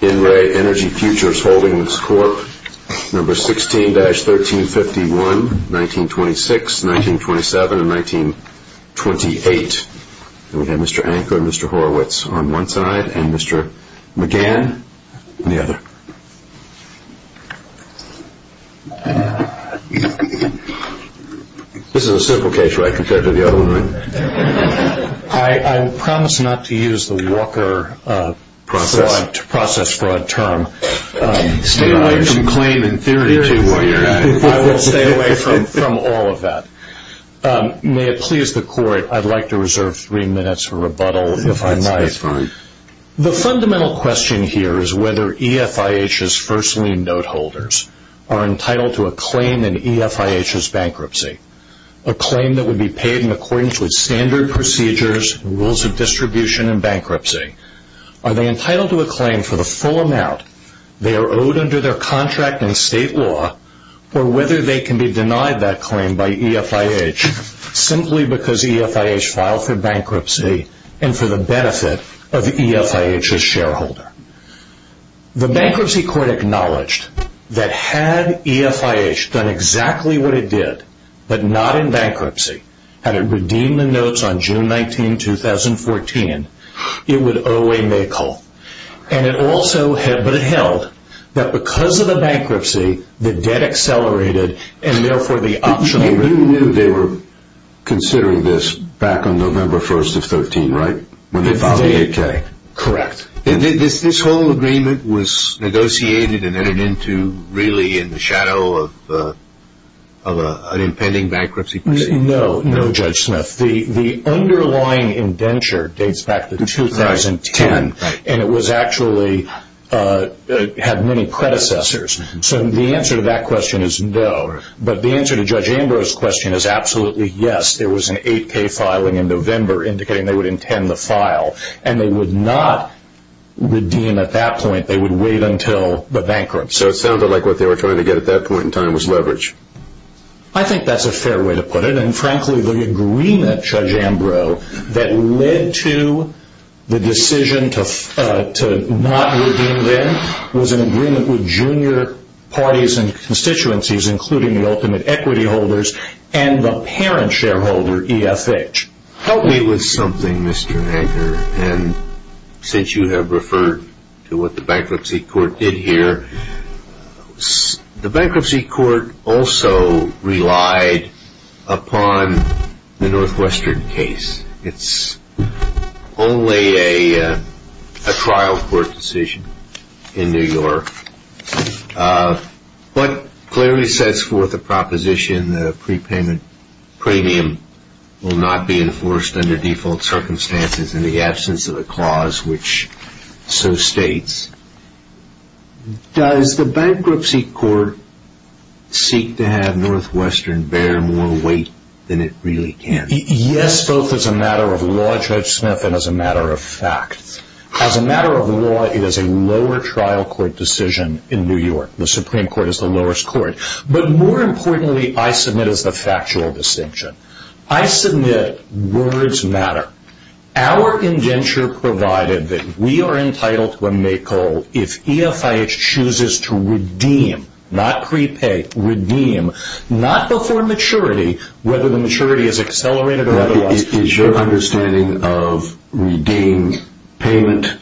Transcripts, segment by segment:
NRA Energy Futures Holding Corp. No. 16-1351, 1926, 1927, and 1928. And we have Mr. Anka and Mr. Horowitz on one side, and Mr. McGann on the other. This is a simple case, right, compared to the other one, right? I promise not to use the Walker process fraud term. Stay away from claim in theory, too, while you're at it. I will stay away from all of that. May it please the Court, I'd like to reserve three minutes for rebuttal if I might. The fundamental question here is whether EFIH's first lien note holders are entitled to a claim in EFIH's bankruptcy, a claim that would be paid in accordance with standard procedures, rules of distribution, and bankruptcy. Are they entitled to a claim for the full amount they are owed under their contract in state law, or whether they can be denied that claim by EFIH simply because EFIH filed for bankruptcy and for the benefit of EFIH's shareholder. The Bankruptcy Court acknowledged that had EFIH done exactly what it did, but not in bankruptcy, had it redeemed the notes on June 19, 2014, it would owe a make-all. And it also held that because of the bankruptcy, the debt accelerated, and therefore the option... You knew they were considering this back on November 1st of 13, right? Correct. This whole agreement was negotiated and entered into really in the shadow of an impending bankruptcy? No, Judge Smith. The underlying indenture dates back to 2010, and it actually had many predecessors. So the answer to that question is no. But the answer to Judge Ambrose's question is absolutely yes. There was an 8K filing in November indicating they would intend the file, and they would not redeem at that point. They would wait until the bankruptcy. So it sounded like what they were trying to get at that point in time was leverage. I think that's a fair way to put it, and frankly the agreement, Judge Ambrose, that led to the decision to not redeem then was an agreement with junior parties and constituencies, including the ultimate equity holders and the parent shareholder, EFH. Help me with something, Mr. Edgar, and since you have referred to what the bankruptcy court did here, the bankruptcy court also relied upon the Northwestern case. It's only a trial court decision in New York. What clearly sets forth the proposition that a prepayment premium will not be enforced under default circumstances in the absence of a clause which so states, does the bankruptcy court seek to have Northwestern bear more weight than it really can? Yes, both as a matter of law, Judge Smith, and as a matter of fact. As a matter of law, it is a lower trial court decision in New York. The Supreme Court is the lowest court. But more importantly, I submit, as a factual distinction, I submit words matter. Our indenture provided that we are entitled to a make call if EFH chooses to redeem, not prepay, redeem, not before maturity, whether the maturity is accelerated or otherwise. Is your understanding of redeem payment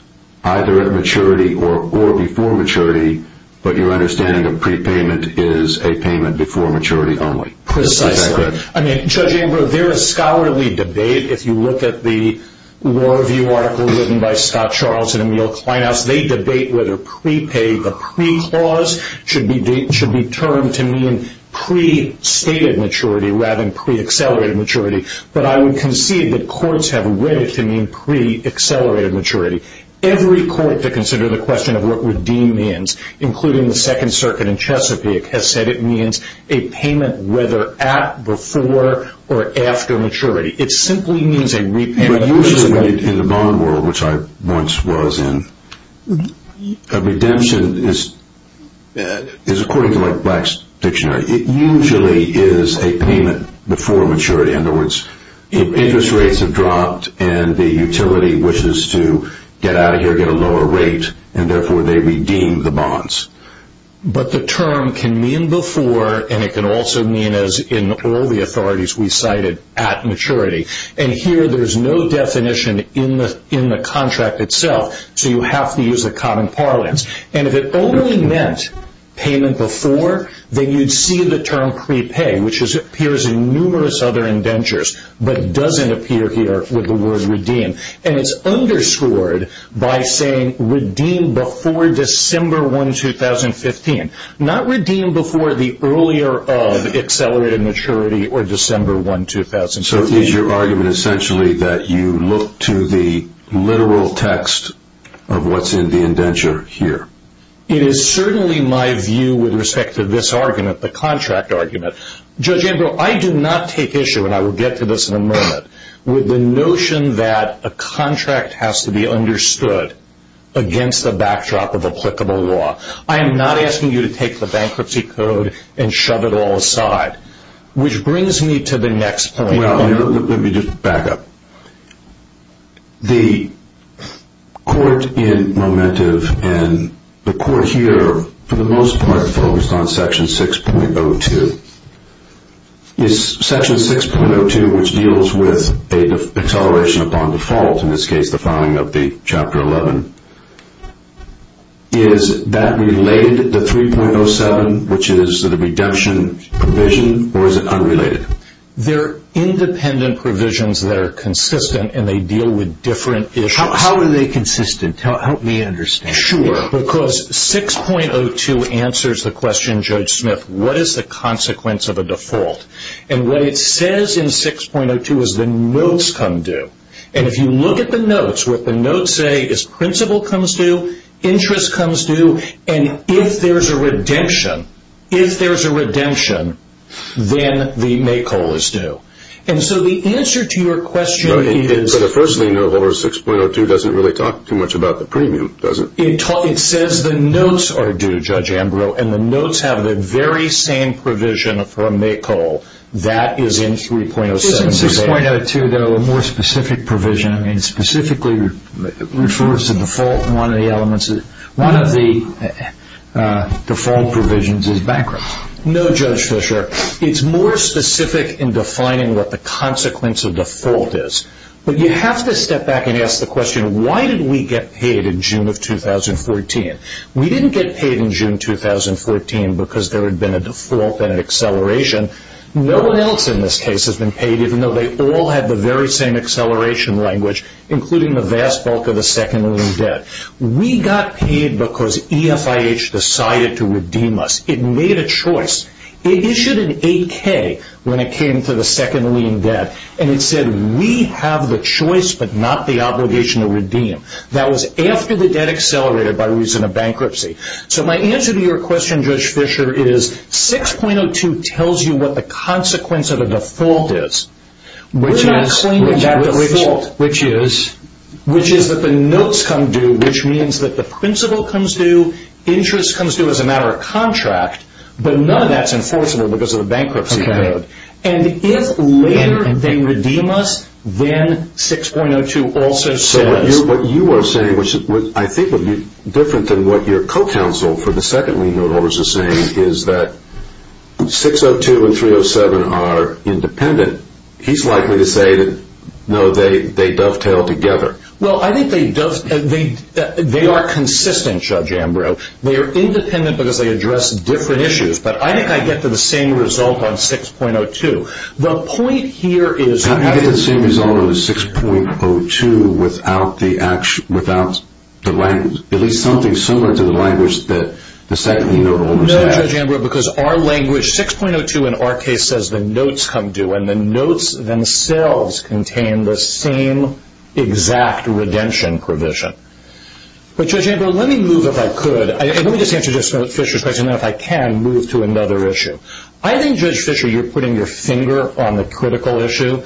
either at maturity or before maturity, but your understanding of prepayment is a payment before maturity only? Precisely. Is that correct? I mean, Judge Amber, there is scholarly debate. If you look at the Law Review article written by Scott Charles and Emil Kleinhaus, they debate whether prepay, the pre-clause, should be termed to mean pre-stated maturity rather than pre-accelerated maturity. But I would concede that courts have read it to mean pre-accelerated maturity. Every court to consider the question of what redeem means, including the Second Circuit in Chesapeake, has said it means a payment whether at, before, or after maturity. It simply means a repayment. But usually in the modern world, which I once was in, a redemption is according to Black's Dictionary. It usually is a payment before maturity. In other words, if interest rates have dropped and the utility wishes to get out of here, get a lower rate, and therefore they redeem the bonds. But the term can mean before, and it can also mean as in all the authorities we cited, at maturity. And here there is no definition in the contract itself, so you have to use the common parlance. And if it only meant payment before, then you'd see the term prepay, which appears in numerous other indentures, but doesn't appear here with the word redeem. And it's underscored by saying redeem before December 1, 2015. Not redeem before the earlier of accelerated maturity or December 1, 2015. So is your argument essentially that you look to the literal text of what's in the indenture here? It is certainly my view with respect to this argument, the contract argument. Judge Ambrose, I do not take issue, and I will get to this in a moment, with the notion that a contract has to be understood against the backdrop of applicable law. I am not asking you to take the bankruptcy code and shove it all aside. Which brings me to the next point. Well, let me just back up. The court in Momentum and the court here, for the most part, focused on Section 6.02. Section 6.02, which deals with acceleration upon default, in this case the filing of the Chapter 11, is that related to 3.07, which is the reduction provision, or is it unrelated? They're independent provisions that are consistent, and they deal with different issues. How are they consistent? Help me understand. Sure. Because 6.02 answers the question, Judge Smith, what is the consequence of a default? And what it says in 6.02 is the notes come due. And if you look at the notes, what the notes say is principal comes due, interest comes due, and if there's a redemption, if there's a redemption, then the make-all is due. And so the answer to your question is... Right. But the first thing to know about 6.02 doesn't really talk too much about the premium, does it? It says the notes are due, Judge Ambrose, and the notes have the very same provision for a make-all. That is in 3.07. In 6.02, though, a more specific provision specifically refers to default. One of the default provisions is bankruptcy. No, Judge Fischer, it's more specific in defining what the consequence of default is. But you have to step back and ask the question, why did we get paid in June of 2014? We didn't get paid in June 2014 because there had been a default and an acceleration. No one else in this case has been paid, even though they all had the very same acceleration language, including the vast bulk of the second lien debt. We got paid because EFIH decided to redeem us. It made a choice. It issued an 8K when it came to the second lien debt, and it said, we have the choice but not the obligation to redeem. That was after the debt accelerated by reason of bankruptcy. So my answer to your question, Judge Fischer, is 6.02 tells you what the consequence of a default is. We're not claiming that default, which is that the notes come due, which means that the principal comes due, interest comes due as a matter of contract, but none of that is enforceable because of the bankruptcy code. And if later they redeem us, then 6.02 also says... What you are saying, which I think would be different than what your co-counsel for the second lien note holders are saying, is that 6.02 and 3.07 are independent. He's likely to say that, no, they dovetail together. Well, I think they are consistent, Judge Ambrose. They are independent because they address different issues, but I think I get to the same result on 6.02. The point here is... At least something similar to the language that the second lien note holders have. No, Judge Ambrose, because our language, 6.02 in our case says the notes come due, and the notes themselves contain the same exact redemption provision. But, Judge Ambrose, let me move, if I could. Let me just answer Judge Fischer's question, and if I can, move to another issue. I think, Judge Fischer, you're putting your finger on the critical issue.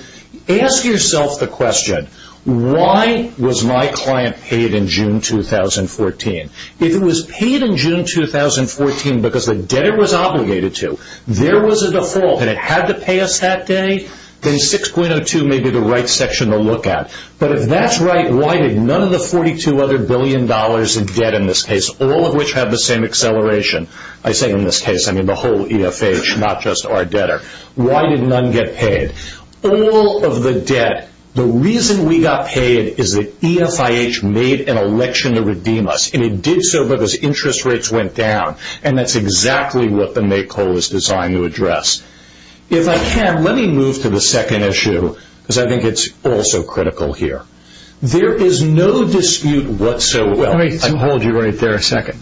Ask yourself the question, why was my client paid in June 2014? If it was paid in June 2014 because the debtor was obligated to, there was a default, and it had to pay us that day, then 6.02 may be the right section to look at. But if that's right, why did none of the 42 other billion dollars in debt in this case, all of which have the same acceleration, I say in this case, I mean the whole EFH, not just our debtor, why did none get paid? All of the debt, the reason we got paid is the EFH made an election to redeem us, and it did so because interest rates went down, and that's exactly what the make whole is designed to address. If I can, let me move to the second issue because I think it's also critical here. There is no dispute whatsoever. Let me hold you right there a second.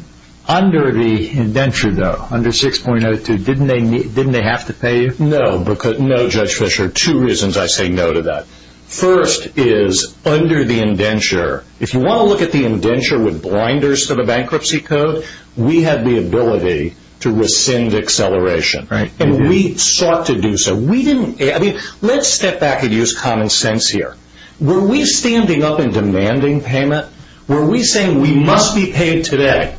Under the indenture, though, under 6.02, didn't they have to pay you? No, Judge Fischer, two reasons I say no to that. First is under the indenture, if you want to look at the indenture with blinders to the bankruptcy code, we had the ability to rescind acceleration, and we sought to do so. Let's step back and use common sense here. Were we standing up and demanding payment? Were we saying we must be paid today?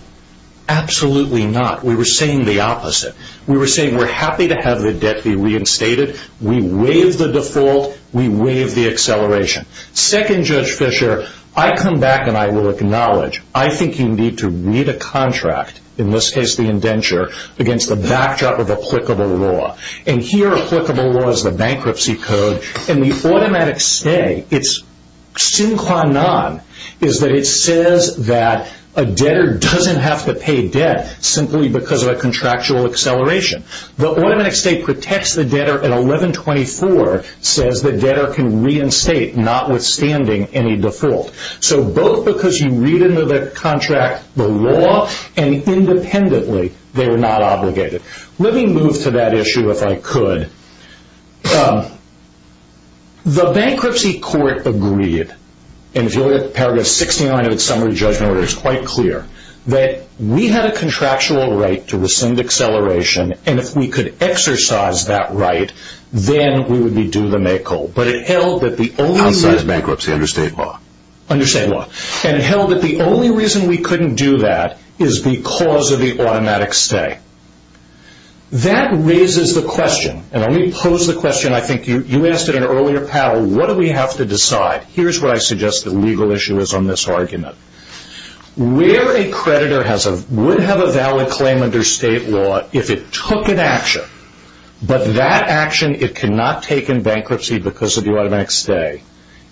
Absolutely not. We were saying the opposite. We were saying we're happy to have the debt be reinstated. We waive the default. We waive the acceleration. Second, Judge Fischer, I come back and I will acknowledge, I think you need to read a contract, in this case the indenture, against the backdrop of applicable law. And here applicable law is the bankruptcy code, and the automatic stay, sin qua non, is that it says that a debtor doesn't have to pay debt simply because of a contractual acceleration. The automatic stay protects the debtor at 11.24, says the debtor can reinstate notwithstanding any default. So both because you read into the contract the law, and independently they were not obligated. Let me move to that issue if I could. The bankruptcy court agreed, and if you look at paragraph 69 of its summary judgment order, it's quite clear that we had a contractual right to rescind acceleration, and if we could exercise that right, then we would be due the make whole. But it held that the only reason we couldn't do that is because of the automatic stay. That raises the question, and let me pose the question, I think you asked it in an earlier panel, what do we have to decide? Here's what I suggest the legal issue is on this argument. Where a creditor would have a valid claim under state law if it took an action, but that action it cannot take in bankruptcy because of the automatic stay,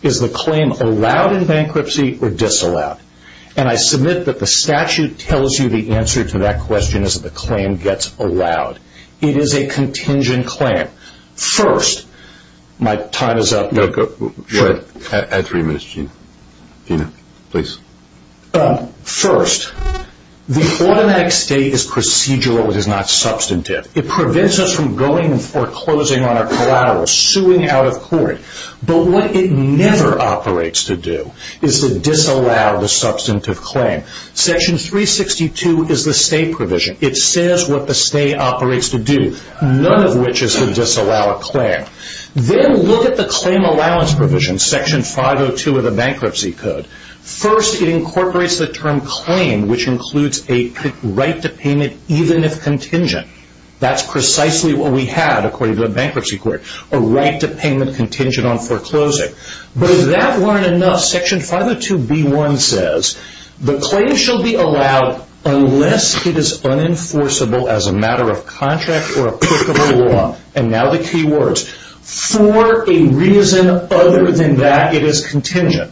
is the claim allowed in bankruptcy or disallowed? And I submit that the statute tells you the answer to that question is that the claim gets allowed. It is a contingent claim. First, my time is up. No, go ahead. Add three minutes, Gina. Gina, please. First, the automatic stay is procedural, it is not substantive. It prevents us from going and foreclosing on our collateral, suing out of court. But what it never operates to do is to disallow the substantive claim. Section 362 is the stay provision. It says what the stay operates to do, none of which is to disallow a claim. Then look at the claim allowance provision, section 502 of the bankruptcy code. First, it incorporates the term claim, which includes a right to payment even if contingent. That's precisely what we had according to the bankruptcy court, a right to payment contingent on foreclosing. But if that weren't enough, section 502B1 says, the claim shall be allowed unless it is unenforceable as a matter of contract or a perk of the law, and now the key words, for a reason other than that it is contingent.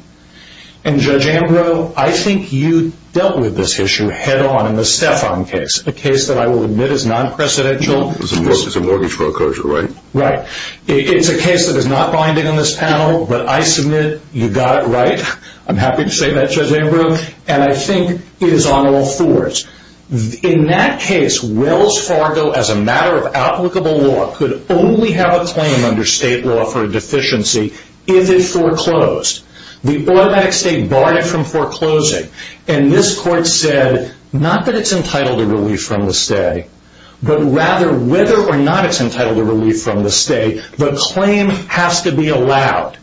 And Judge Ambrose, I think you dealt with this issue head on in the Stefan case, a case that I will admit is non-precedential. It's a mortgage foreclosure, right? It's a case that is not binding on this panel, but I submit you got it right. I'm happy to say that, Judge Ambrose, and I think it is on all fours. In that case, Wells Fargo, as a matter of applicable law, could only have a claim under state law for a deficiency if it foreclosed. The automatic stay barred it from foreclosing, and this court said not that it's entitled to relief from the stay, but rather whether or not it's entitled to relief from the stay, the claim has to be allowed.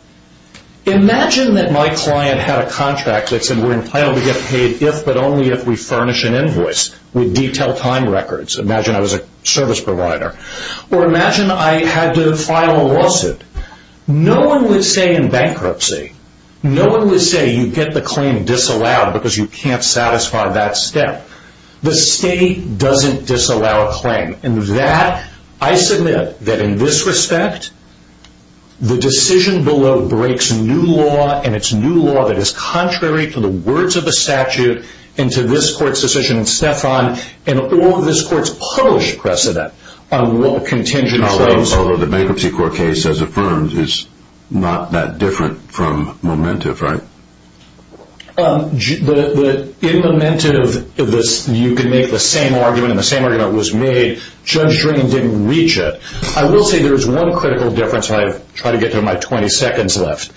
Imagine that my client had a contract that said we're entitled to get paid if but only if we furnish an invoice with detailed time records. Imagine I was a service provider. Or imagine I had to file a lawsuit. No one would say in bankruptcy, no one would say you get the claim disallowed because you can't satisfy that step. The stay doesn't disallow a claim, and that, I submit, that in this respect, the decision below breaks new law, and it's new law that is contrary to the words of the statute and to this court's decision, and Stefan, and all of this court's published precedent on what contingent claims. Although the bankruptcy court case, as affirmed, is not that different from Momentum, right? In Momentum, you can make the same argument, and the same argument was made. Judge Drain didn't reach it. I will say there is one critical difference, and I've tried to get to it in my 20 seconds left.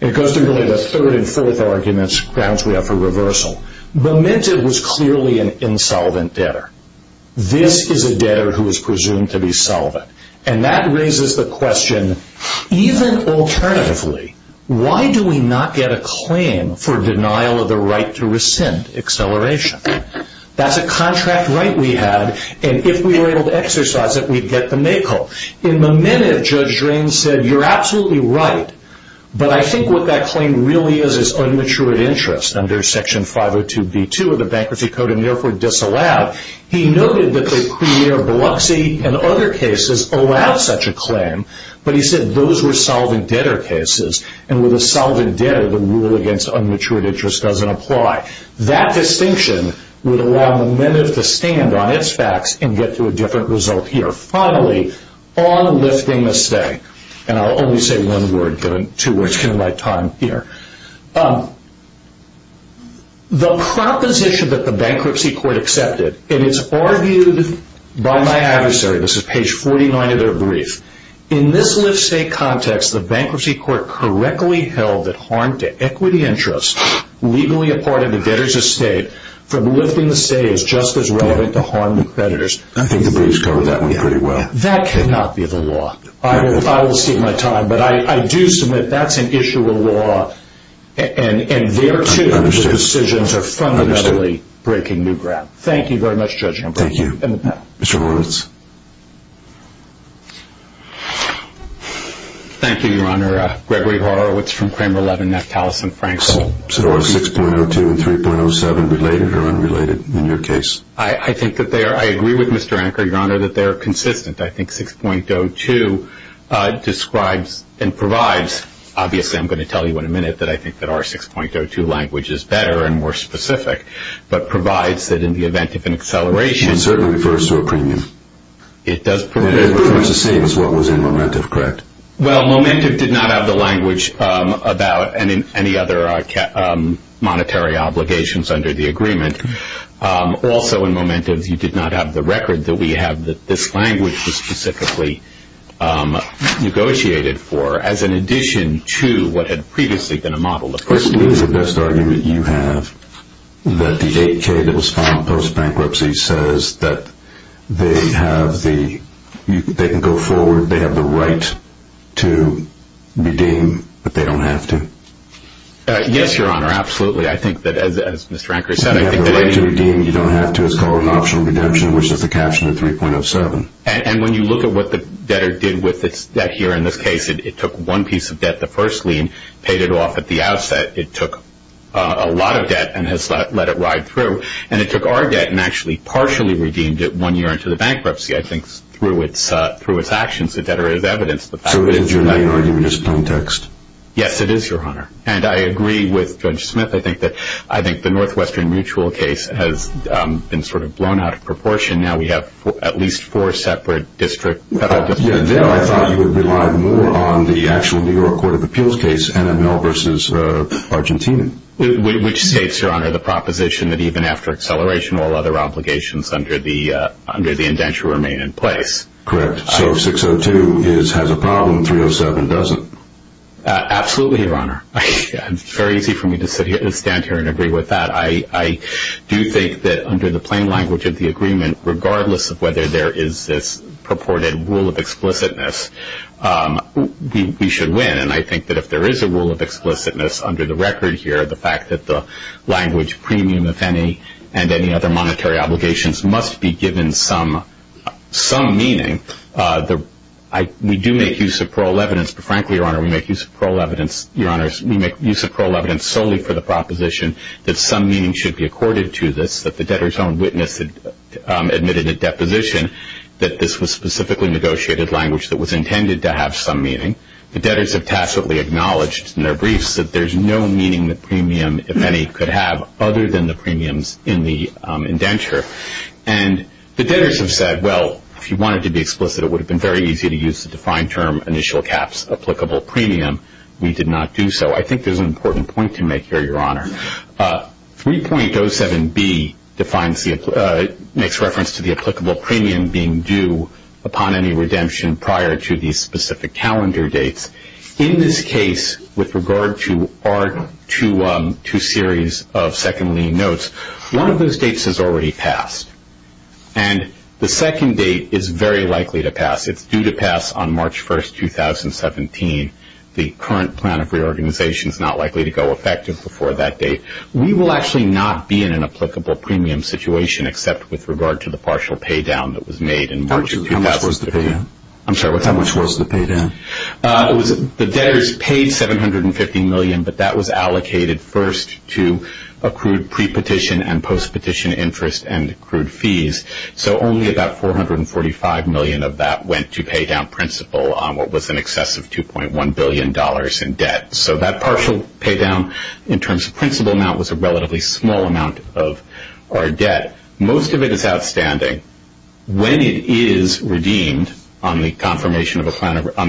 It goes to really the third and fourth arguments grounds we have for reversal. Momentum was clearly an insolvent debtor. This is a debtor who is presumed to be solvent, and that raises the question, even alternatively, why do we not get a claim for denial of the right to rescind acceleration? That's a contract right we had, and if we were able to exercise it, we'd get the make-all. In Momentum, Judge Drain said, you're absolutely right, but I think what that claim really is is unmatured interest under Section 502b2 of the Bankruptcy Code, and therefore disallowed. But he said those were solvent debtor cases, and with a solvent debtor, the rule against unmatured interest doesn't apply. That distinction would allow Momentum to stand on its facts and get to a different result here. Finally, on lifting the stake, and I'll only say one word given two words, given my time here. The proposition that the Bankruptcy Court accepted, and it's argued by my adversary, this is page 49 of their brief. In this lift-stake context, the Bankruptcy Court correctly held that harm to equity interests legally a part of the debtor's estate from lifting the stake is just as relevant to harm to creditors. I think the briefs covered that one pretty well. That cannot be the law. I will cede my time, but I do submit that's an issue of law, and there, too, the decisions are fundamentally breaking new ground. Thank you very much, Judge. Thank you. Mr. Horowitz. Thank you, Your Honor. Gregory Horowitz from Kramer 11, Neftalys & Frankville. So are 6.02 and 3.07 related or unrelated in your case? I think that they are. I agree with Mr. Anker, Your Honor, that they are consistent. I think 6.02 describes and provides. Obviously, I'm going to tell you in a minute that I think that our 6.02 language is better and more specific, but provides that in the event of an acceleration. It certainly refers to a premium. It does. It's pretty much the same as what was in Momentum, correct? Well, Momentum did not have the language about any other monetary obligations under the agreement. Also, in Momentum, you did not have the record that we have that this language was specifically negotiated for as an addition to what had previously been a model. To me, the best argument you have that the 8K that was filed post-bankruptcy says that they can go forward, they have the right to redeem, but they don't have to. Yes, Your Honor, absolutely. I think that, as Mr. Anker said, I think that... You have the right to redeem. You don't have to. It's called an optional redemption, which is the caption of 3.07. And when you look at what the debtor did with its debt here in this case, it took one piece of debt, the first lien, paid it off at the outset. It took a lot of debt and has let it ride through. And it took our debt and actually partially redeemed it one year into the bankruptcy, I think, through its actions. The debtor has evidenced the fact. So it is your main argument in this context? Yes, it is, Your Honor. And I agree with Judge Smith. I think the Northwestern Mutual case has been sort of blown out of proportion. Now we have at least four separate federal districts. Yeah, there I thought you would rely more on the actual New York Court of Appeals case, NML versus Argentina. Which states, Your Honor, the proposition that even after acceleration, all other obligations under the indenture remain in place. Correct. So if 6.02 has a problem, 3.07 doesn't. Absolutely, Your Honor. It's very easy for me to stand here and agree with that. I do think that under the plain language of the agreement, regardless of whether there is this purported rule of explicitness, we should win. And I think that if there is a rule of explicitness under the record here, the fact that the language premium, if any, and any other monetary obligations must be given some meaning, we do make use of parole evidence. But frankly, Your Honor, we make use of parole evidence solely for the proposition that some meaning should be accorded to this, that the debtor's own witness admitted at deposition that this was specifically negotiated language that was intended to have some meaning. The debtors have tacitly acknowledged in their briefs that there's no meaning the premium, if any, could have other than the premiums in the indenture. And the debtors have said, well, if you wanted to be explicit, it would have been very easy to use the defined term initial caps applicable premium. We did not do so. I think there's an important point to make here, Your Honor. 3.07B makes reference to the applicable premium being due upon any redemption prior to these specific calendar dates. In this case, with regard to our two series of second lien notes, one of those dates has already passed. And the second date is very likely to pass. It's due to pass on March 1, 2017. The current plan of reorganization is not likely to go effective before that date. We will actually not be in an applicable premium situation except with regard to the partial pay down that was made in March. How much was the pay down? I'm sorry, what's that? How much was the pay down? The debtors paid $750 million, but that was allocated first to accrued pre-petition and post-petition interest and accrued fees. So only about $445 million of that went to pay down principal on what was in excess of $2.1 billion in debt. So that partial pay down in terms of principal amount was a relatively small amount of our debt. Most of it is outstanding. When it is redeemed on the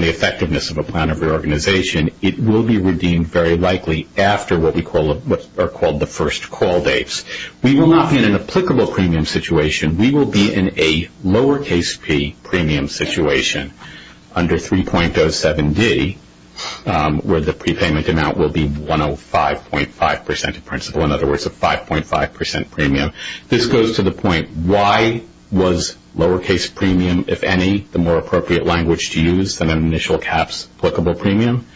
effectiveness of a plan of reorganization, it will be redeemed very likely after what are called the first call dates. We will not be in an applicable premium situation. We will be in a lowercase p premium situation under 3.07d, where the prepayment amount will be 105.5% of principal, in other words, a 5.5% premium. This goes to the point, why was lowercase premium, if any, the more appropriate language to use than an initial caps applicable premium?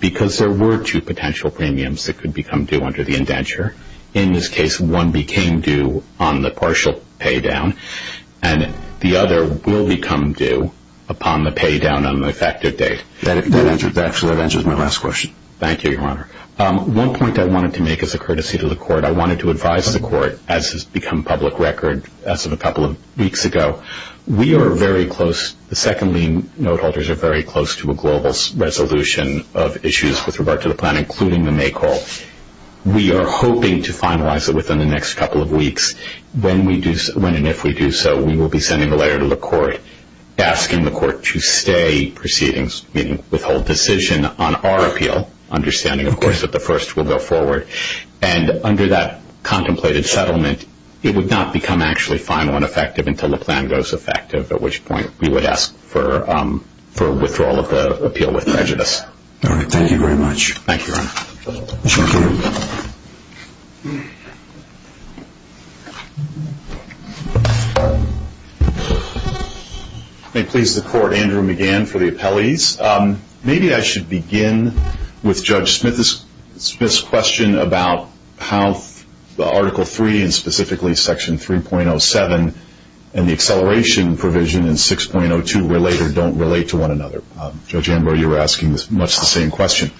Because there were two potential premiums that could become due under the indenture. In this case, one became due on the partial pay down, and the other will become due upon the pay down on the effective date. That actually answers my last question. Thank you, Your Honor. One point I wanted to make as a courtesy to the Court, I wanted to advise the Court, as has become public record as of a couple of weeks ago, we are very close, the second lien note holders are very close to a global resolution of issues with regard to the plan, including the May call. We are hoping to finalize it within the next couple of weeks. When and if we do so, we will be sending a letter to the Court asking the Court to stay proceedings, meaning withhold decision on our appeal, understanding, of course, that the first will go forward. And under that contemplated settlement, it would not become actually final and effective until the plan goes effective, at which point we would ask for withdrawal of the appeal with prejudice. All right. Thank you very much. Thank you, Your Honor. May it please the Court, Andrew McGann for the appellees. Maybe I should begin with Judge Smith's question about how Article III, and specifically Section 3.07 and the acceleration provision in 6.02 relate or don't relate to one another. Judge Amber, you were asking much the same question.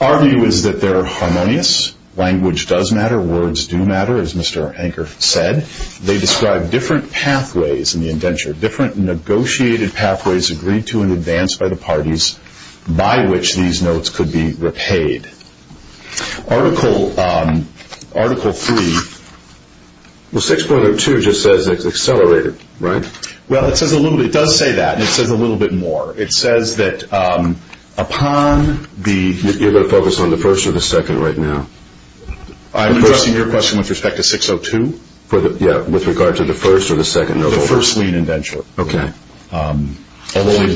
Our view is that they're harmonious. Language does matter. Words do matter, as Mr. Anker said. They describe different pathways in the indenture, different negotiated pathways agreed to in advance by the parties by which these notes could be repaid. Article III. Well, 6.02 just says it's accelerated, right? Well, it says a little bit. It does say that, and it says a little bit more. It says that upon the- You're going to focus on the first or the second right now? I'm addressing your question with respect to 6.02. Yeah, with regard to the first or the second note? The first lien indenture. Okay. Although they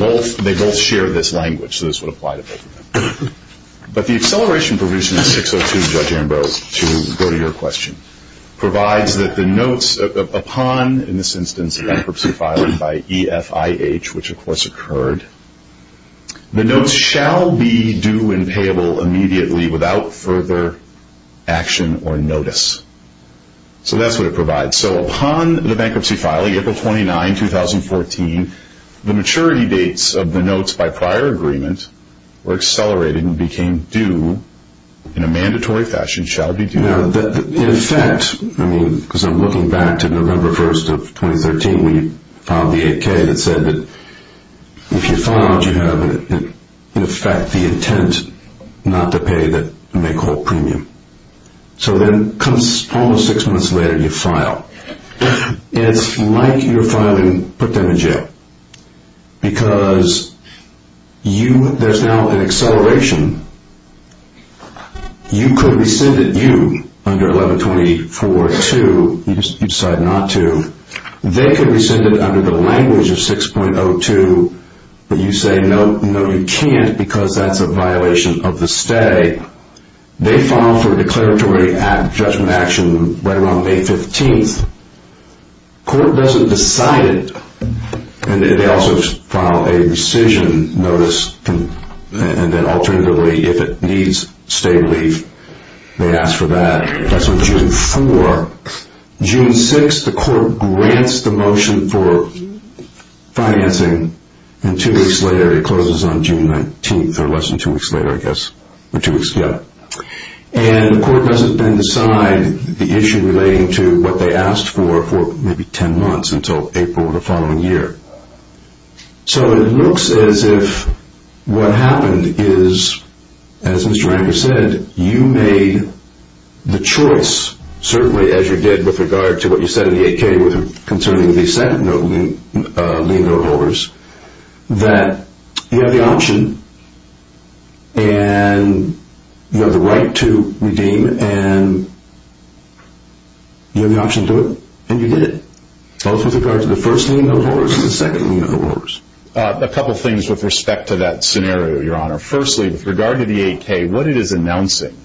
both share this language, so this would apply to both of them. But the acceleration provision in 6.02, Judge Amber, to go to your question, provides that the notes upon, in this instance, a bankruptcy filing by EFIH, which of course occurred, the notes shall be due and payable immediately without further action or notice. So that's what it provides. So upon the bankruptcy filing, April 29, 2014, the maturity dates of the notes by prior agreement were accelerated and became due in a mandatory fashion, In effect, I mean, because I'm looking back to November 1, 2013, we filed the 8K that said that if you filed, you have, in effect, the intent not to pay the make whole premium. So then almost six months later, you file. It's like you're filing put them in jail because there's now an acceleration. You could rescind it, you, under 1124-2. You decide not to. They could rescind it under the language of 6.02, but you say, no, no, you can't, because that's a violation of the stay. They file for declaratory judgment action right around May 15th. The court doesn't decide it, and they also file a rescission notice, and then alternatively, if it needs stay relief, they ask for that. That's on June 4. June 6, the court grants the motion for financing, and two weeks later, it closes on June 19, or less than two weeks later, I guess, or two weeks, yeah. The court doesn't then decide the issue relating to what they asked for for maybe ten months until April of the following year. So it looks as if what happened is, as Mr. Ranker said, you made the choice, certainly as you did with regard to what you said in the 8K concerning the second lien note holders, that you have the option, and you have the right to redeem it, and you have the option to do it, and you did it, both with regard to the first lien note holders and the second lien note holders. A couple things with respect to that scenario, Your Honor. Firstly, with regard to the 8K, what it is announcing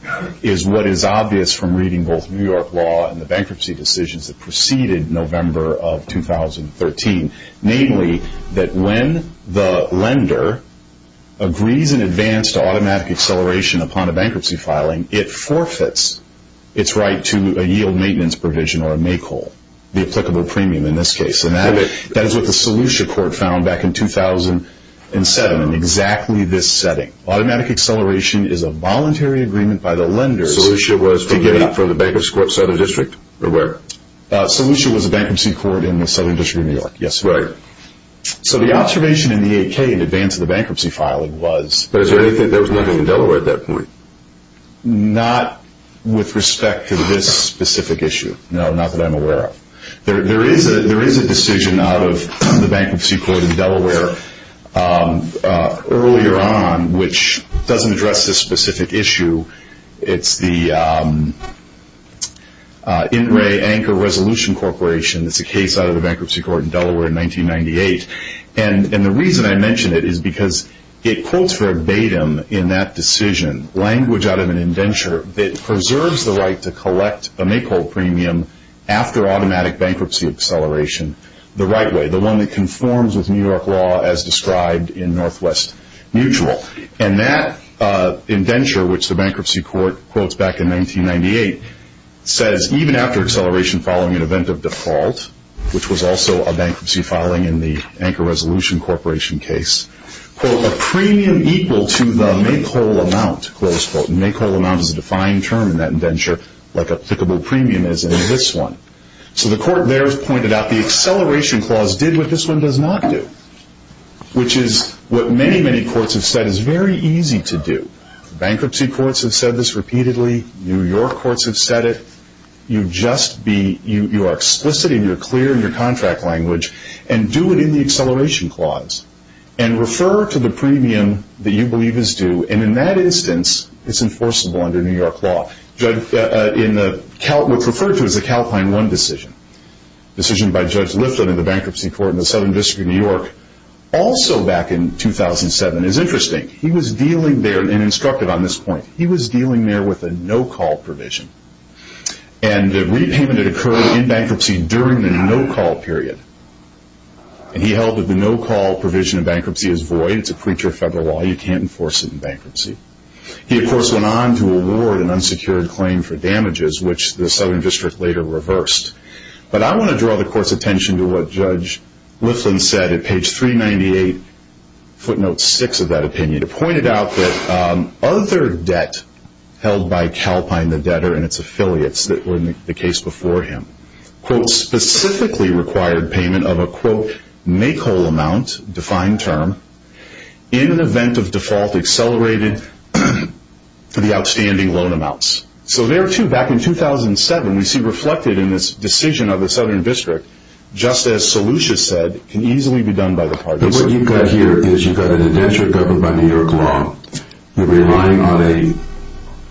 is what is obvious from reading both New York law and the bankruptcy decisions that preceded November of 2013, namely that when the lender agrees in advance to automatic acceleration upon a bankruptcy filing, it forfeits its right to a yield maintenance provision or a make whole, the applicable premium in this case. And that is what the Solution Court found back in 2007 in exactly this setting. Automatic acceleration is a voluntary agreement by the lenders to get it up. Solution was for the bankruptcy court in the Southern District, or where? Solution was a bankruptcy court in the Southern District of New York, yes, Your Honor. Right. So the observation in the 8K in advance of the bankruptcy filing was But is there anything, there was nothing in Delaware at that point. Not with respect to this specific issue. No, not that I'm aware of. There is a decision out of the bankruptcy court in Delaware earlier on, which doesn't address this specific issue. It's the In Re Anchor Resolution Corporation. It's a case out of the bankruptcy court in Delaware in 1998. And the reason I mention it is because it quotes verbatim in that decision language out of an indenture that preserves the right to collect a make whole premium after automatic bankruptcy acceleration the right way, the one that conforms with New York law as described in Northwest Mutual. And that indenture, which the bankruptcy court quotes back in 1998, says even after acceleration following an event of default, which was also a bankruptcy filing in the Anchor Resolution Corporation case, quote, a premium equal to the make whole amount, close quote. And make whole amount is a defined term in that indenture, like applicable premium is in this one. So the court there has pointed out the acceleration clause did what this one does not do, which is what many, many courts have said is very easy to do. Bankruptcy courts have said this repeatedly. New York courts have said it. You just be, you are explicit and you're clear in your contract language and do it in the acceleration clause. And refer to the premium that you believe is due. And in that instance, it's enforceable under New York law. What's referred to as a CALPINE 1 decision, decision by Judge Lifton in the bankruptcy court in the Southern District of New York, also back in 2007, is interesting. He was dealing there, and instructed on this point, he was dealing there with a no-call provision. And the repayment had occurred in bankruptcy during the no-call period. And he held that the no-call provision in bankruptcy is void. It's a creature of federal law. You can't enforce it in bankruptcy. He, of course, went on to award an unsecured claim for damages, which the Southern District later reversed. But I want to draw the court's attention to what Judge Lifton said at page 398, footnote 6 of that opinion. It pointed out that other debt held by CALPINE, the debtor, and its affiliates that were in the case before him, quote, specifically required payment of a, quote, make-whole amount, defined term, in an event of default accelerated to the outstanding loan amounts. So there, too, back in 2007, we see reflected in this decision of the Southern District, just as Solution said, can easily be done by the parties. But what you've got here is you've got an indenture governed by New York law. You're relying on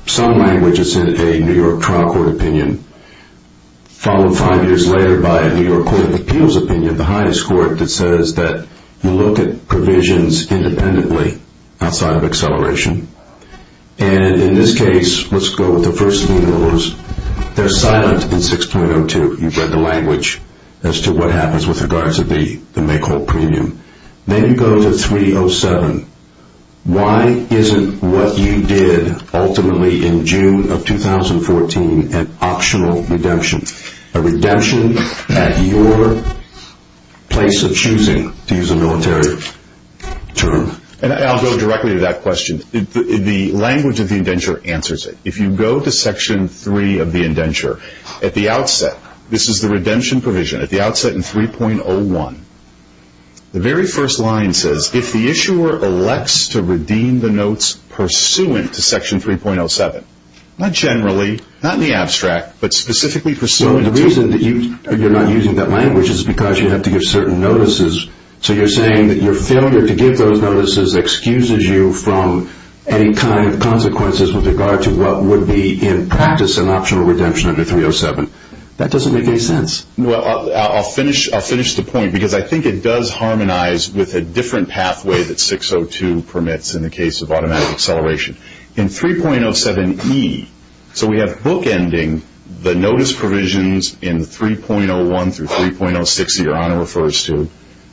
some language that's in a New York trial court opinion, followed five years later by a New York Court of Appeals opinion, the highest court, that says that you look at provisions independently outside of acceleration. And in this case, let's go with the first three rules. They're silent in 6.02. You've read the language as to what happens with regards to the make-whole premium. Then you go to 3.07. Why isn't what you did ultimately in June of 2014 an optional redemption, a redemption at your place of choosing, to use a military term? I'll go directly to that question. The language of the indenture answers it. If you go to Section 3 of the indenture, at the outset, this is the redemption provision, at the outset in 3.01, the very first line says, if the issuer elects to redeem the notes pursuant to Section 3.07, not generally, not in the abstract, but specifically pursuant to. So the reason that you're not using that language is because you have to give certain notices. So you're saying that your failure to give those notices excuses you from any kind of consequences with regard to what would be, in practice, an optional redemption under 3.07. That doesn't make any sense. Well, I'll finish the point because I think it does harmonize with a different pathway that 6.02 permits in the case of automatic acceleration. In 3.07e, so we have bookending the notice provisions in 3.01 through 3.06, your Honor refers to,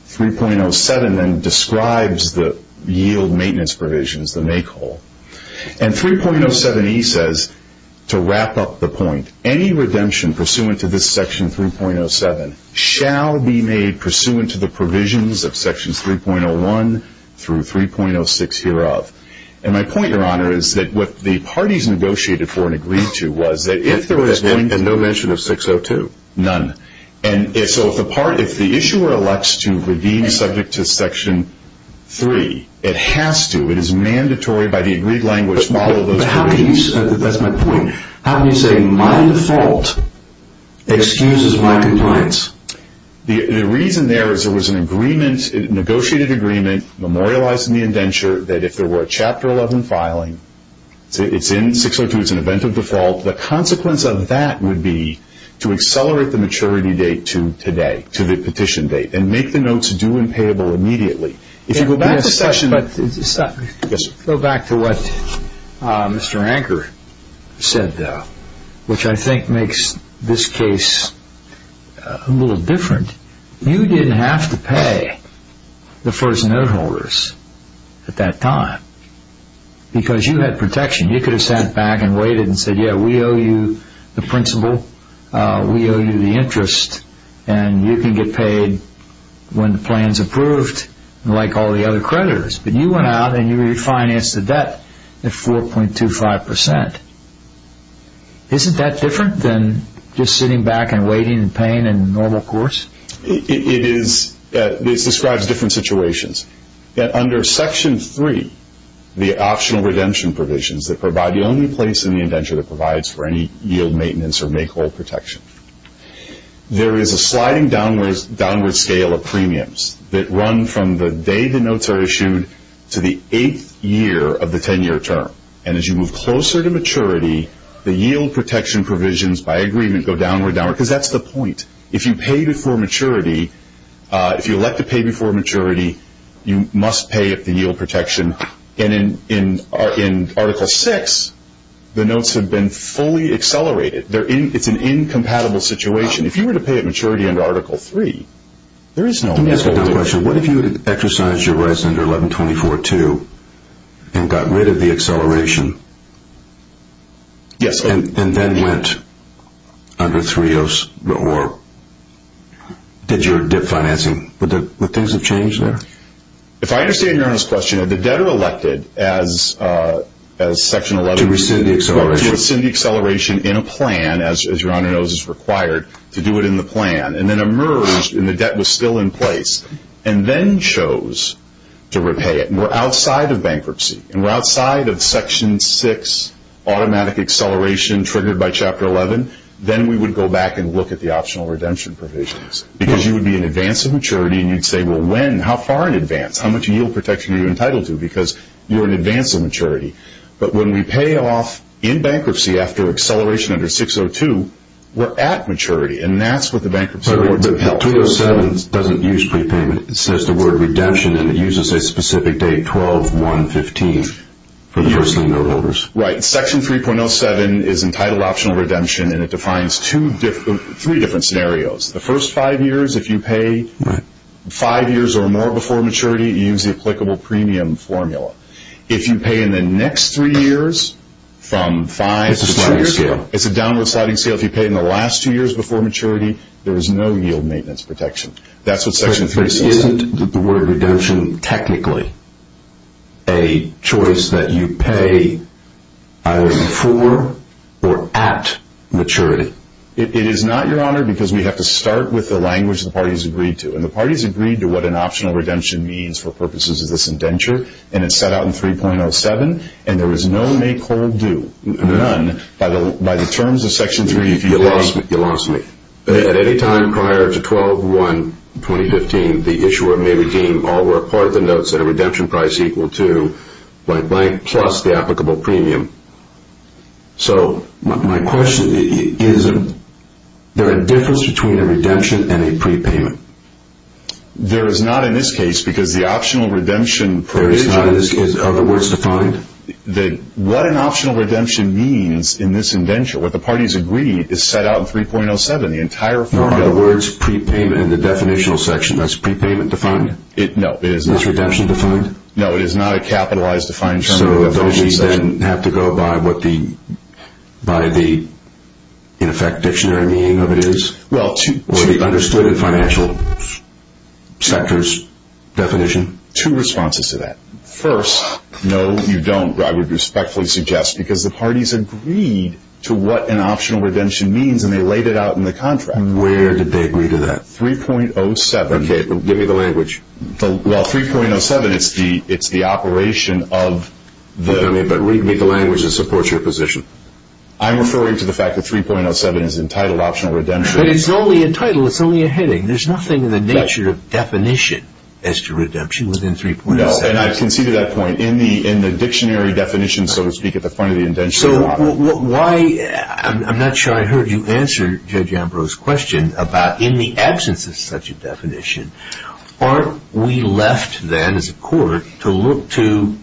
3.07 then describes the yield maintenance provisions, the make whole. And 3.07e says, to wrap up the point, any redemption pursuant to this Section 3.07 shall be made pursuant to the provisions of Sections 3.01 through 3.06 hereof. And my point, your Honor, is that what the parties negotiated for and agreed to was that if there was going to And no mention of 6.02? None. None. So if the issuer elects to redeem subject to Section 3, it has to. It is mandatory by the agreed language to follow those provisions. That's my point. How can you say my default excuses my compliance? The reason there is there was an agreement, a negotiated agreement, memorialized in the indenture that if there were a Chapter 11 filing, it's in 6.02, it's an event of default, the consequence of that would be to accelerate the maturity date to today, to the petition date, and make the notes due and payable immediately. If you go back to what Mr. Ranker said, which I think makes this case a little different, you didn't have to pay the first note holders at that time because you had protection. You could have sat back and waited and said, yeah, we owe you the principal, we owe you the interest, and you can get paid when the plan is approved, like all the other creditors. But you went out and you refinanced the debt at 4.25%. Isn't that different than just sitting back and waiting and paying in the normal course? It is. This describes different situations. Under Section 3, the optional redemption provisions that provide the only place in the indenture that provides for any yield maintenance or makehold protection, there is a sliding downward scale of premiums that run from the day the notes are issued to the eighth year of the 10-year term. And as you move closer to maturity, the yield protection provisions by agreement go downward, downward, because that's the point. If you pay before maturity, if you elect to pay before maturity, you must pay at the yield protection. And in Article 6, the notes have been fully accelerated. It's an incompatible situation. If you were to pay at maturity under Article 3, there is no way. Let me ask you another question. So what if you exercised your rights under 1124.2 and got rid of the acceleration and then went under 3.0 or did your dip financing? Would things have changed there? If I understand Your Honor's question, if the debtor elected as Section 11... To rescind the acceleration. To rescind the acceleration in a plan, as Your Honor knows is required, to do it in the plan, and then emerged and the debt was still in place, and then chose to repay it, and we're outside of bankruptcy, and we're outside of Section 6 automatic acceleration triggered by Chapter 11, then we would go back and look at the optional redemption provisions. Because you would be in advance of maturity and you'd say, well, when? How far in advance? How much yield protection are you entitled to? Because you're in advance of maturity. But when we pay off in bankruptcy after acceleration under 6.02, we're at maturity. And that's what the bankruptcy rewards would help. But 3.07 doesn't use prepayment. It says the word redemption, and it uses a specific date, 12-1-15, for the first loanholders. Right. Section 3.07 is entitled optional redemption, and it defines three different scenarios. The first five years, if you pay five years or more before maturity, you use the applicable premium formula. If you pay in the next three years from five to two years ago... It's a sliding scale. If you pay in the last two years before maturity, there is no yield maintenance protection. That's what Section 3 says. But isn't the word redemption technically a choice that you pay either for or at maturity? It is not, Your Honor, because we have to start with the language the parties agreed to. And the parties agreed to what an optional redemption means for purposes of this indenture, and it's set out in 3.07. And there is no make-hold-do, none, by the terms of Section 3. You lost me. At any time prior to 12-1-2015, the issuer may redeem all or part of the notes at a redemption price equal to, blank-blank, plus the applicable premium. So my question is, is there a difference between a redemption and a prepayment? There is not in this case because the optional redemption... There is not in this case. Are the words defined? What an optional redemption means in this indenture, what the parties agreed, is set out in 3.07. The entire formula... Are the words prepayment in the definitional section, that's prepayment defined? No, it is not. Is redemption defined? No, it is not a capitalized defined term in the definition section. So those needs then have to go by what the, in effect, dictionary meaning of it is? Well, to... To be understood in financial sector's definition? Two responses to that. First... No, you don't, I would respectfully suggest, because the parties agreed to what an optional redemption means, and they laid it out in the contract. Where did they agree to that? 3.07... Okay, give me the language. Well, 3.07, it's the operation of the... Okay, but read me the language that supports your position. I'm referring to the fact that 3.07 is entitled optional redemption... But it's only a title. It's only a heading. There's nothing in the nature of definition as to redemption within 3.07. No, and I concede to that point. In the dictionary definition, so to speak, at the point of the indenture... So, why... I'm not sure I heard you answer Judge Ambrose's question about in the absence of such a definition, aren't we left then, as a court, to look to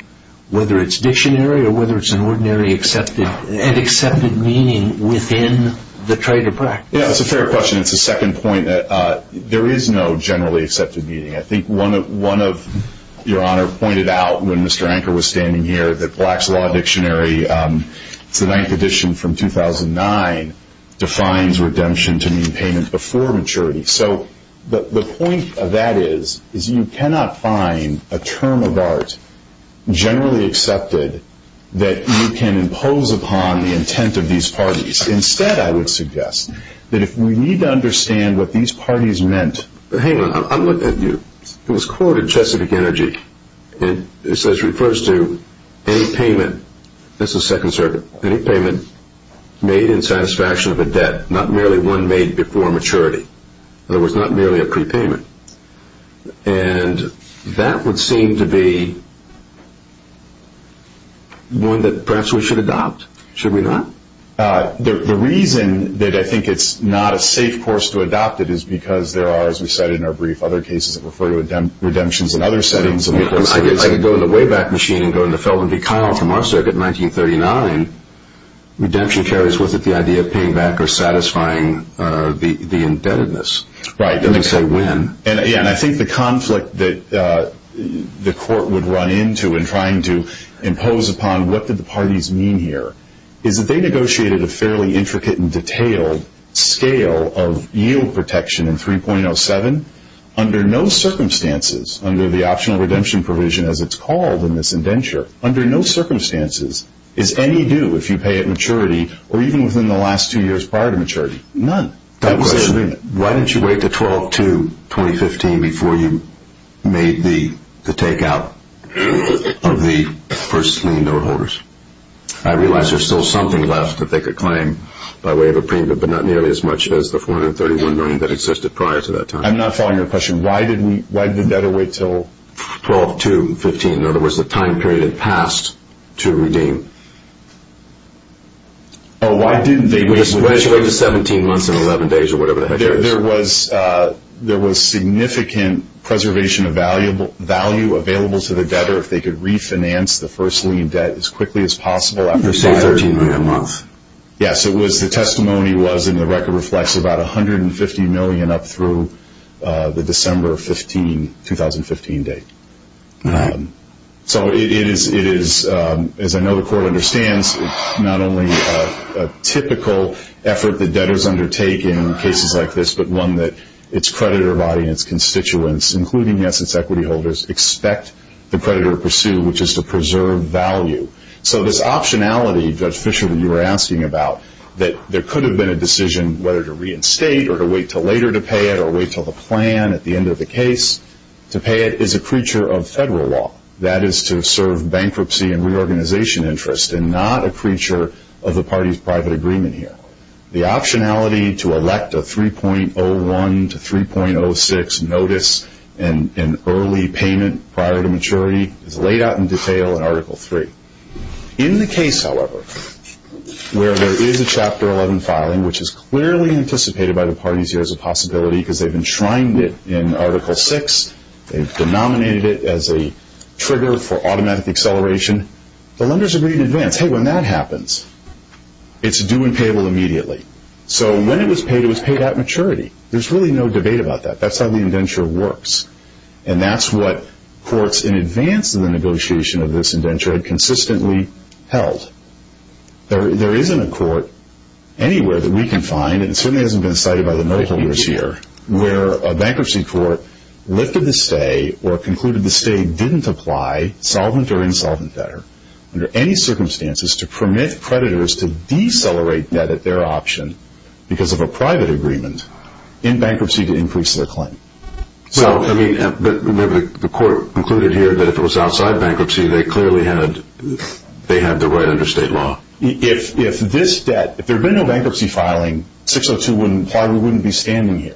whether it's dictionary or whether it's an ordinary accepted... No.... and accepted meaning within the trade of practice? Yeah, it's a fair question. It's a second point that there is no generally accepted meaning. I think one of... your Honor pointed out when Mr. Anker was standing here that Black's Law Dictionary, it's the ninth edition from 2009, defines redemption to mean payment before maturity. So, the point of that is, is you cannot find a term of art generally accepted that you can impose upon the intent of these parties. Instead, I would suggest that if we need to understand what these parties meant... Hang on, I'm looking at you. It was quoted in Chesapeake Energy. It says, refers to any payment... that's the Second Circuit... any payment made in satisfaction of a debt, not merely one made before maturity. In other words, not merely a prepayment. And that would seem to be one that perhaps we should adopt. Should we not? The reason that I think it's not a safe course to adopt it is because there are, as we said in our brief, other cases that refer to redemptions in other settings. I could go to the Wayback Machine and go to the Felden v. Kyle from our circuit in 1939. Redemption carries with it the idea of paying back or satisfying the indebtedness. Right. I'm going to say when. And I think the conflict that the Court would run into in trying to impose upon what did the parties mean here is that they negotiated a fairly intricate and detailed scale of yield protection in 3.07. Under no circumstances, under the optional redemption provision as it's called in this indenture, under no circumstances is any due, if you pay at maturity or even within the last two years prior to maturity, none. Why didn't you wait to 12-2, 2015, before you made the takeout of the first clean door holders? I realize there's still something left that they could claim by way of a preemptive, but not nearly as much as the 431 million that existed prior to that time. I'm not following your question. Why did the debtor wait until 12-2, 2015? In other words, the time period had passed to redeem. Oh, why didn't they wait? Why didn't you wait until 17 months and 11 days or whatever the heck it is? There was significant preservation of value available to the debtor. If they could refinance the first lien debt as quickly as possible. You say 13 million a month. Yes, the testimony was and the record reflects about 150 million up through the December 15, 2015 date. So it is, as I know the court understands, not only a typical effort that debtors undertake in cases like this, but one that its creditor body and its constituents, including, yes, its equity holders, expect the creditor to pursue, which is to preserve value. So this optionality, Judge Fischer, that you were asking about, that there could have been a decision whether to reinstate or to wait until later to pay it or wait until the plan at the end of the case, to pay it is a creature of federal law. That is to serve bankruptcy and reorganization interest and not a creature of the party's private agreement here. The optionality to elect a 3.01 to 3.06 notice and early payment prior to maturity is laid out in detail in Article 3. In the case, however, where there is a Chapter 11 filing, which is clearly anticipated by the parties here as a possibility because they have enshrined it in Article 6. They have denominated it as a trigger for automatic acceleration. The lenders agreed in advance, hey, when that happens, it's due and payable immediately. So when it was paid, it was paid at maturity. There's really no debate about that. That's how the indenture works, and that's what courts in advance of the negotiation of this indenture had consistently held. There isn't a court anywhere that we can find, and it certainly hasn't been cited by the note holders here, where a bankruptcy court lifted the stay or concluded the stay didn't apply, solvent or insolvent better, under any circumstances to permit creditors to decelerate debt at their option because of a private agreement in bankruptcy to increase their claim. So, I mean, the court concluded here that if it was outside bankruptcy, they clearly had the right under state law. If this debt, if there had been no bankruptcy filing, 602 wouldn't apply. We wouldn't be standing here.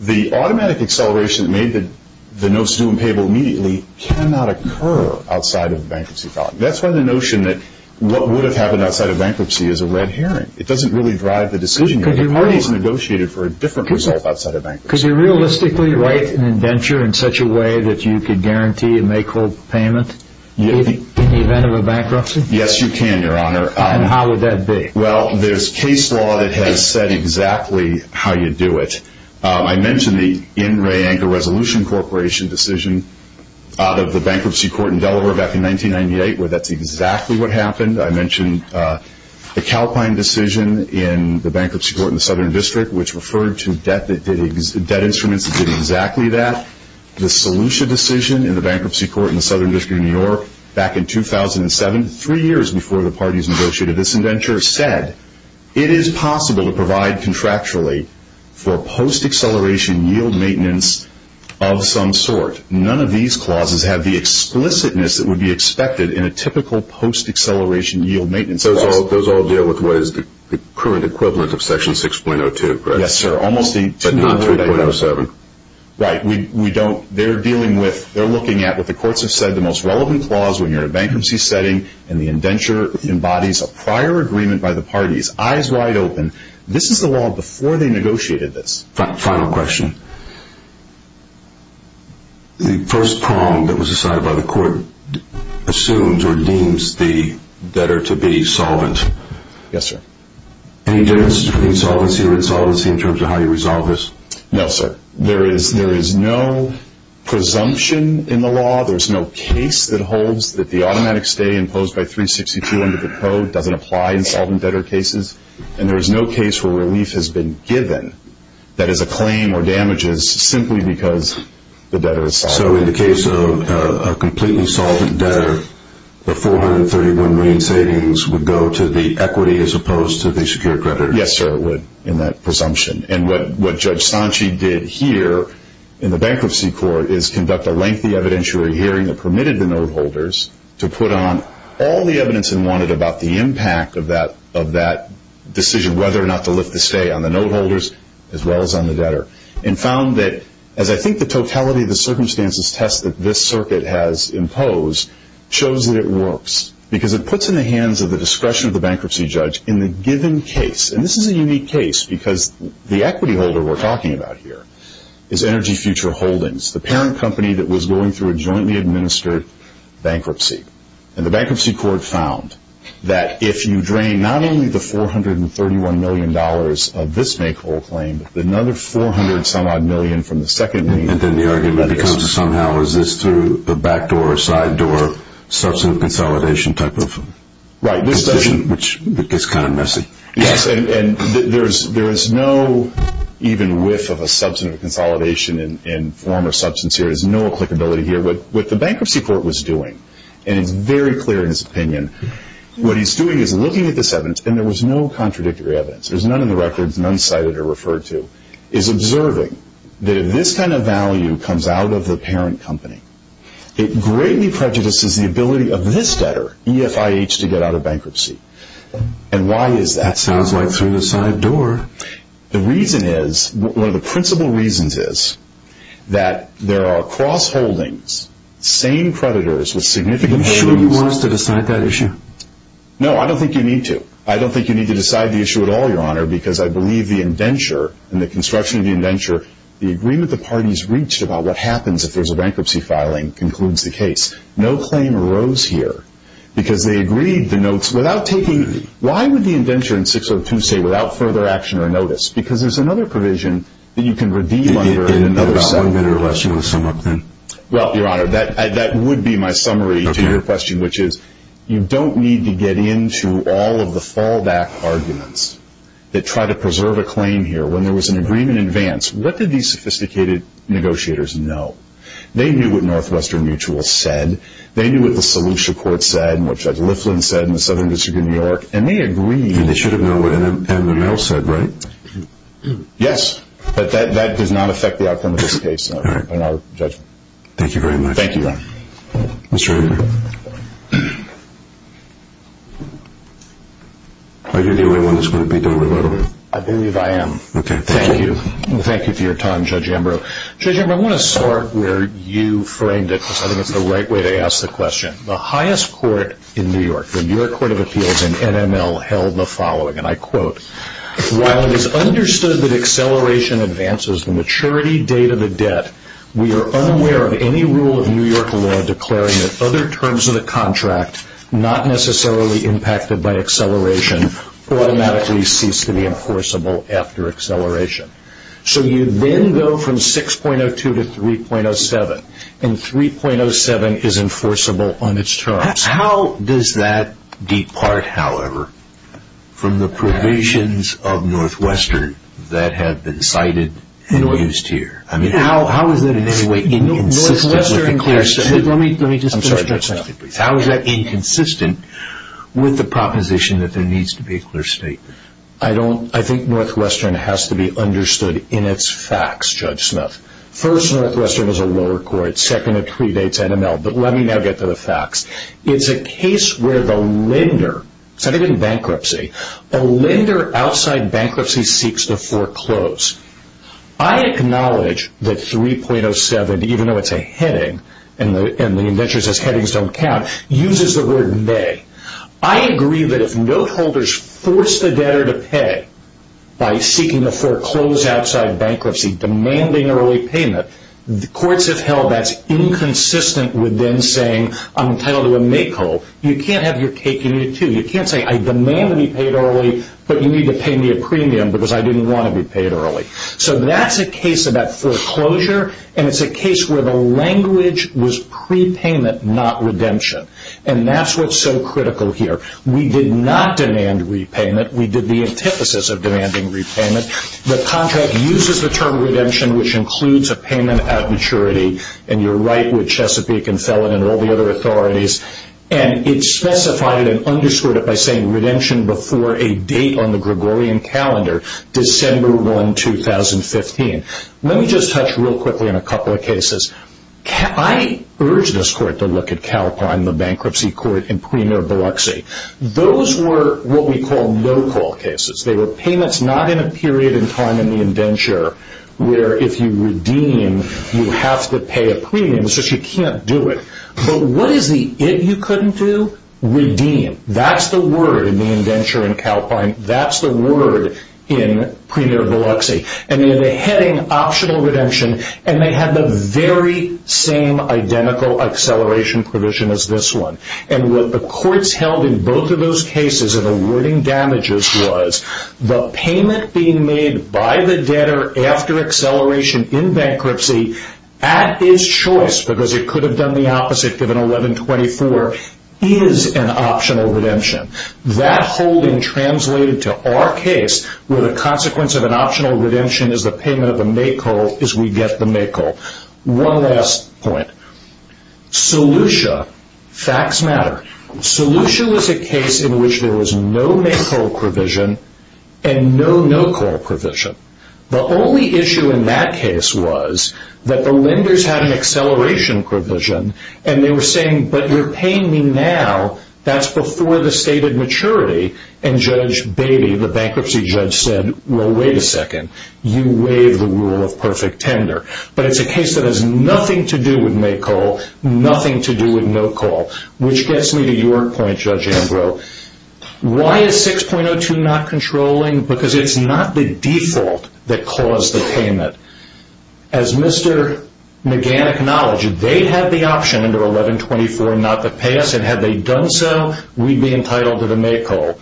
The automatic acceleration that made the notes due and payable immediately cannot occur outside of bankruptcy filing. That's why the notion that what would have happened outside of bankruptcy is a red herring. It doesn't really drive the decision. The parties negotiated for a different result outside of bankruptcy. Could you realistically write an indenture in such a way that you could guarantee a make-or-payment in the event of a bankruptcy? Yes, you can, Your Honor. And how would that be? Well, there's case law that has said exactly how you do it. I mentioned the In Re Anchor Resolution Corporation decision out of the bankruptcy court in Delaware back in 1998 where that's exactly what happened. I mentioned the Calpine decision in the bankruptcy court in the Southern District, which referred to debt instruments that did exactly that. The Solution decision in the bankruptcy court in the Southern District of New York back in 2007, three years before the parties negotiated this indenture, said, it is possible to provide contractually for post-acceleration yield maintenance of some sort. None of these clauses have the explicitness that would be expected in a typical post-acceleration yield maintenance clause. Those all deal with what is the current equivalent of Section 6.02, correct? Yes, sir. But not 3.07. Right. They're looking at what the courts have said, the most relevant clause when you're in a bankruptcy setting and the indenture embodies a prior agreement by the parties, eyes wide open. This is the law before they negotiated this. Final question. The first prong that was decided by the court assumes or deems the debtor to be solvent. Yes, sir. Any differences between solvency or insolvency in terms of how you resolve this? No, sir. There is no presumption in the law. There is no case that holds that the automatic stay imposed by 362 under the code doesn't apply in solvent debtor cases. And there is no case where relief has been given that is a claim or damages simply because the debtor is solvent. So in the case of a completely solvent debtor, the 431 million savings would go to the equity as opposed to the secured credit? Yes, sir, it would in that presumption. And what Judge Sanchi did here in the bankruptcy court is conduct a lengthy evidentiary hearing that permitted the note holders to put on all the evidence they wanted about the impact of that decision, whether or not to lift the stay on the note holders as well as on the debtor, and found that as I think the totality of the circumstances test that this circuit has imposed shows that it works because it puts in the hands of the discretion of the bankruptcy judge in the given case. And this is a unique case because the equity holder we're talking about here is Energy Future Holdings, the parent company that was going through a jointly administered bankruptcy. And the bankruptcy court found that if you drain not only the $431 million of this make whole claim, but another 400 some odd million from the second make whole claim. And then the argument becomes somehow is this through the back door or side door, Yes, and there is no even whiff of a substantive consolidation in form or substance here. There's no applicability here. What the bankruptcy court was doing, and it's very clear in his opinion, what he's doing is looking at this evidence, and there was no contradictory evidence. There's none in the records, none cited or referred to, is observing that if this kind of value comes out of the parent company, it greatly prejudices the ability of this debtor, EFIH, to get out of bankruptcy. And why is that so? That sounds like through the side door. The reason is, one of the principal reasons is, that there are cross holdings, same creditors with significant holdings. Are you sure you want us to decide that issue? No, I don't think you need to. I don't think you need to decide the issue at all, Your Honor, because I believe the indenture and the construction of the indenture, the agreement the parties reached about what happens if there's a bankruptcy filing, concludes the case. No claim arose here, because they agreed the notes without taking, why would the indenture in 602 say without further action or notice? Because there's another provision that you can redeem under in another settlement. Is there one that you want to sum up then? Well, Your Honor, that would be my summary to your question, which is you don't need to get into all of the fallback arguments that try to preserve a claim here. When there was an agreement in advance, what did these sophisticated negotiators know? They knew what Northwestern Mutual said. They knew what the Solution Court said, and what Judge Liflin said in the Southern District of New York, and they agreed. They should have known what MML said, right? Yes, but that does not affect the outcome of this case in our judgment. Thank you very much. Thank you, Your Honor. Mr. Amber? Are you the only one that's going to be doing a little? I believe I am. Okay, thank you. Thank you. Thank you for your time, Judge Amber. Judge Amber, I want to start where you framed it, because I think it's the right way to ask the question. The highest court in New York, the New York Court of Appeals and NML, held the following, and I quote, While it is understood that acceleration advances the maturity date of a debt, we are unaware of any rule of New York law declaring that other terms of the contract not necessarily impacted by acceleration automatically cease to be enforceable after acceleration. So you then go from 6.02 to 3.07, and 3.07 is enforceable on its terms. How does that depart, however, from the provisions of Northwestern that have been cited and used here? I mean, how is that in any way inconsistent with the clear statement? Let me just finish my sentence. How is that inconsistent with the proposition that there needs to be a clear statement? I think Northwestern has to be understood in its facts, Judge Smith. First, Northwestern is a lower court. Second, it predates NML. But let me now get to the facts. It's a case where the lender, it's not even bankruptcy, a lender outside bankruptcy seeks to foreclose. I acknowledge that 3.07, even though it's a heading, and the indenture says headings don't count, uses the word may. I agree that if note holders force the debtor to pay by seeking to foreclose outside bankruptcy, demanding early payment, the courts have held that's inconsistent with them saying I'm entitled to a make whole. You can't have your cake and eat it too. You can't say I demand to be paid early, but you need to pay me a premium because I didn't want to be paid early. So that's a case about foreclosure, and it's a case where the language was prepayment, not redemption. And that's what's so critical here. We did not demand repayment. We did the antithesis of demanding repayment. The contract uses the term redemption, which includes a payment at maturity, and you're right with Chesapeake and Felon and all the other authorities, and it specified it and underscored it by saying redemption before a date on the Gregorian calendar, December 1, 2015. Let me just touch real quickly on a couple of cases. I urge this court to look at Calpine, the bankruptcy court in Premier Biloxi. Those were what we call no-call cases. They were payments not in a period in time in the indenture where if you redeem, you have to pay a premium, so you can't do it. But what is the it you couldn't do? Redeem. That's the word in the indenture in Calpine. That's the word in Premier Biloxi. And they're heading optional redemption, and they have the very same identical acceleration provision as this one. And what the courts held in both of those cases in awarding damages was the payment being made by the debtor after acceleration in bankruptcy at his choice, because it could have done the opposite given 11-24, is an optional redemption. That holding translated to our case where the consequence of an optional redemption is the payment of a make-call is we get the make-call. One last point. Solution. Facts matter. Solution was a case in which there was no make-call provision and no no-call provision. The only issue in that case was that the lenders had an acceleration provision, and they were saying, but you're paying me now. That's before the stated maturity. And Judge Beatty, the bankruptcy judge, said, well, wait a second. You waive the rule of perfect tender. But it's a case that has nothing to do with make-call, nothing to do with no-call, which gets me to your point, Judge Ambrose. Why is 6.02 not controlling? Because it's not the default that caused the payment. As Mr. McGann acknowledged, if they had the option under 11-24 not to pay us, and had they done so, we'd be entitled to the make-call.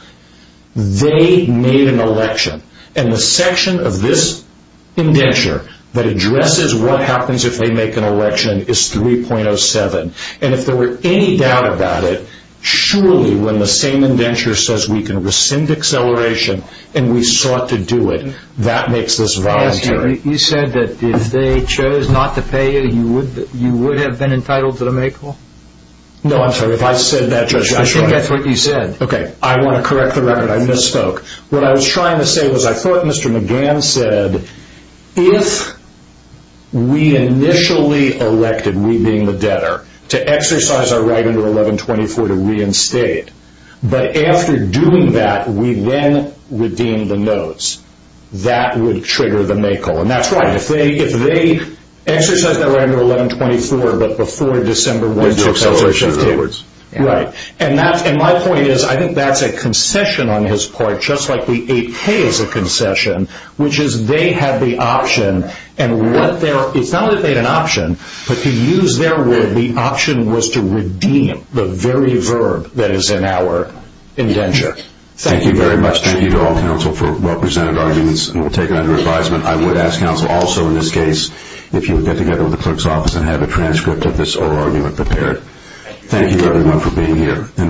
They made an election. And the section of this indenture that addresses what happens if they make an election is 3.07. And if there were any doubt about it, surely when the same indenture says we can rescind acceleration and we sought to do it, that makes this voluntary. You said that if they chose not to pay you, you would have been entitled to the make-call? No, I'm sorry. If I said that, Judge, I'm sorry. I think that's what you said. Okay. I want to correct the record. I misspoke. What I was trying to say was I thought Mr. McGann said, if we initially elected, we being the debtor, to exercise our right under 11-24 to reinstate, but after doing that, we then redeemed the notes. That would trigger the make-call. And that's right. If they exercised that right under 11-24, but before December 1, they'd do acceleration. Right. And my point is I think that's a concession on his part, just like the 8K is a concession, which is they had the option. And it's not that they had an option, but to use their word, and the option was to redeem the very verb that is in our indenture. Thank you very much. Thank you to all counsel for well-presented arguments, and we'll take it under advisement. I would ask counsel also in this case if you would get together with the clerk's office and have a transcript of this oral argument prepared. Thank you, everyone, for being here.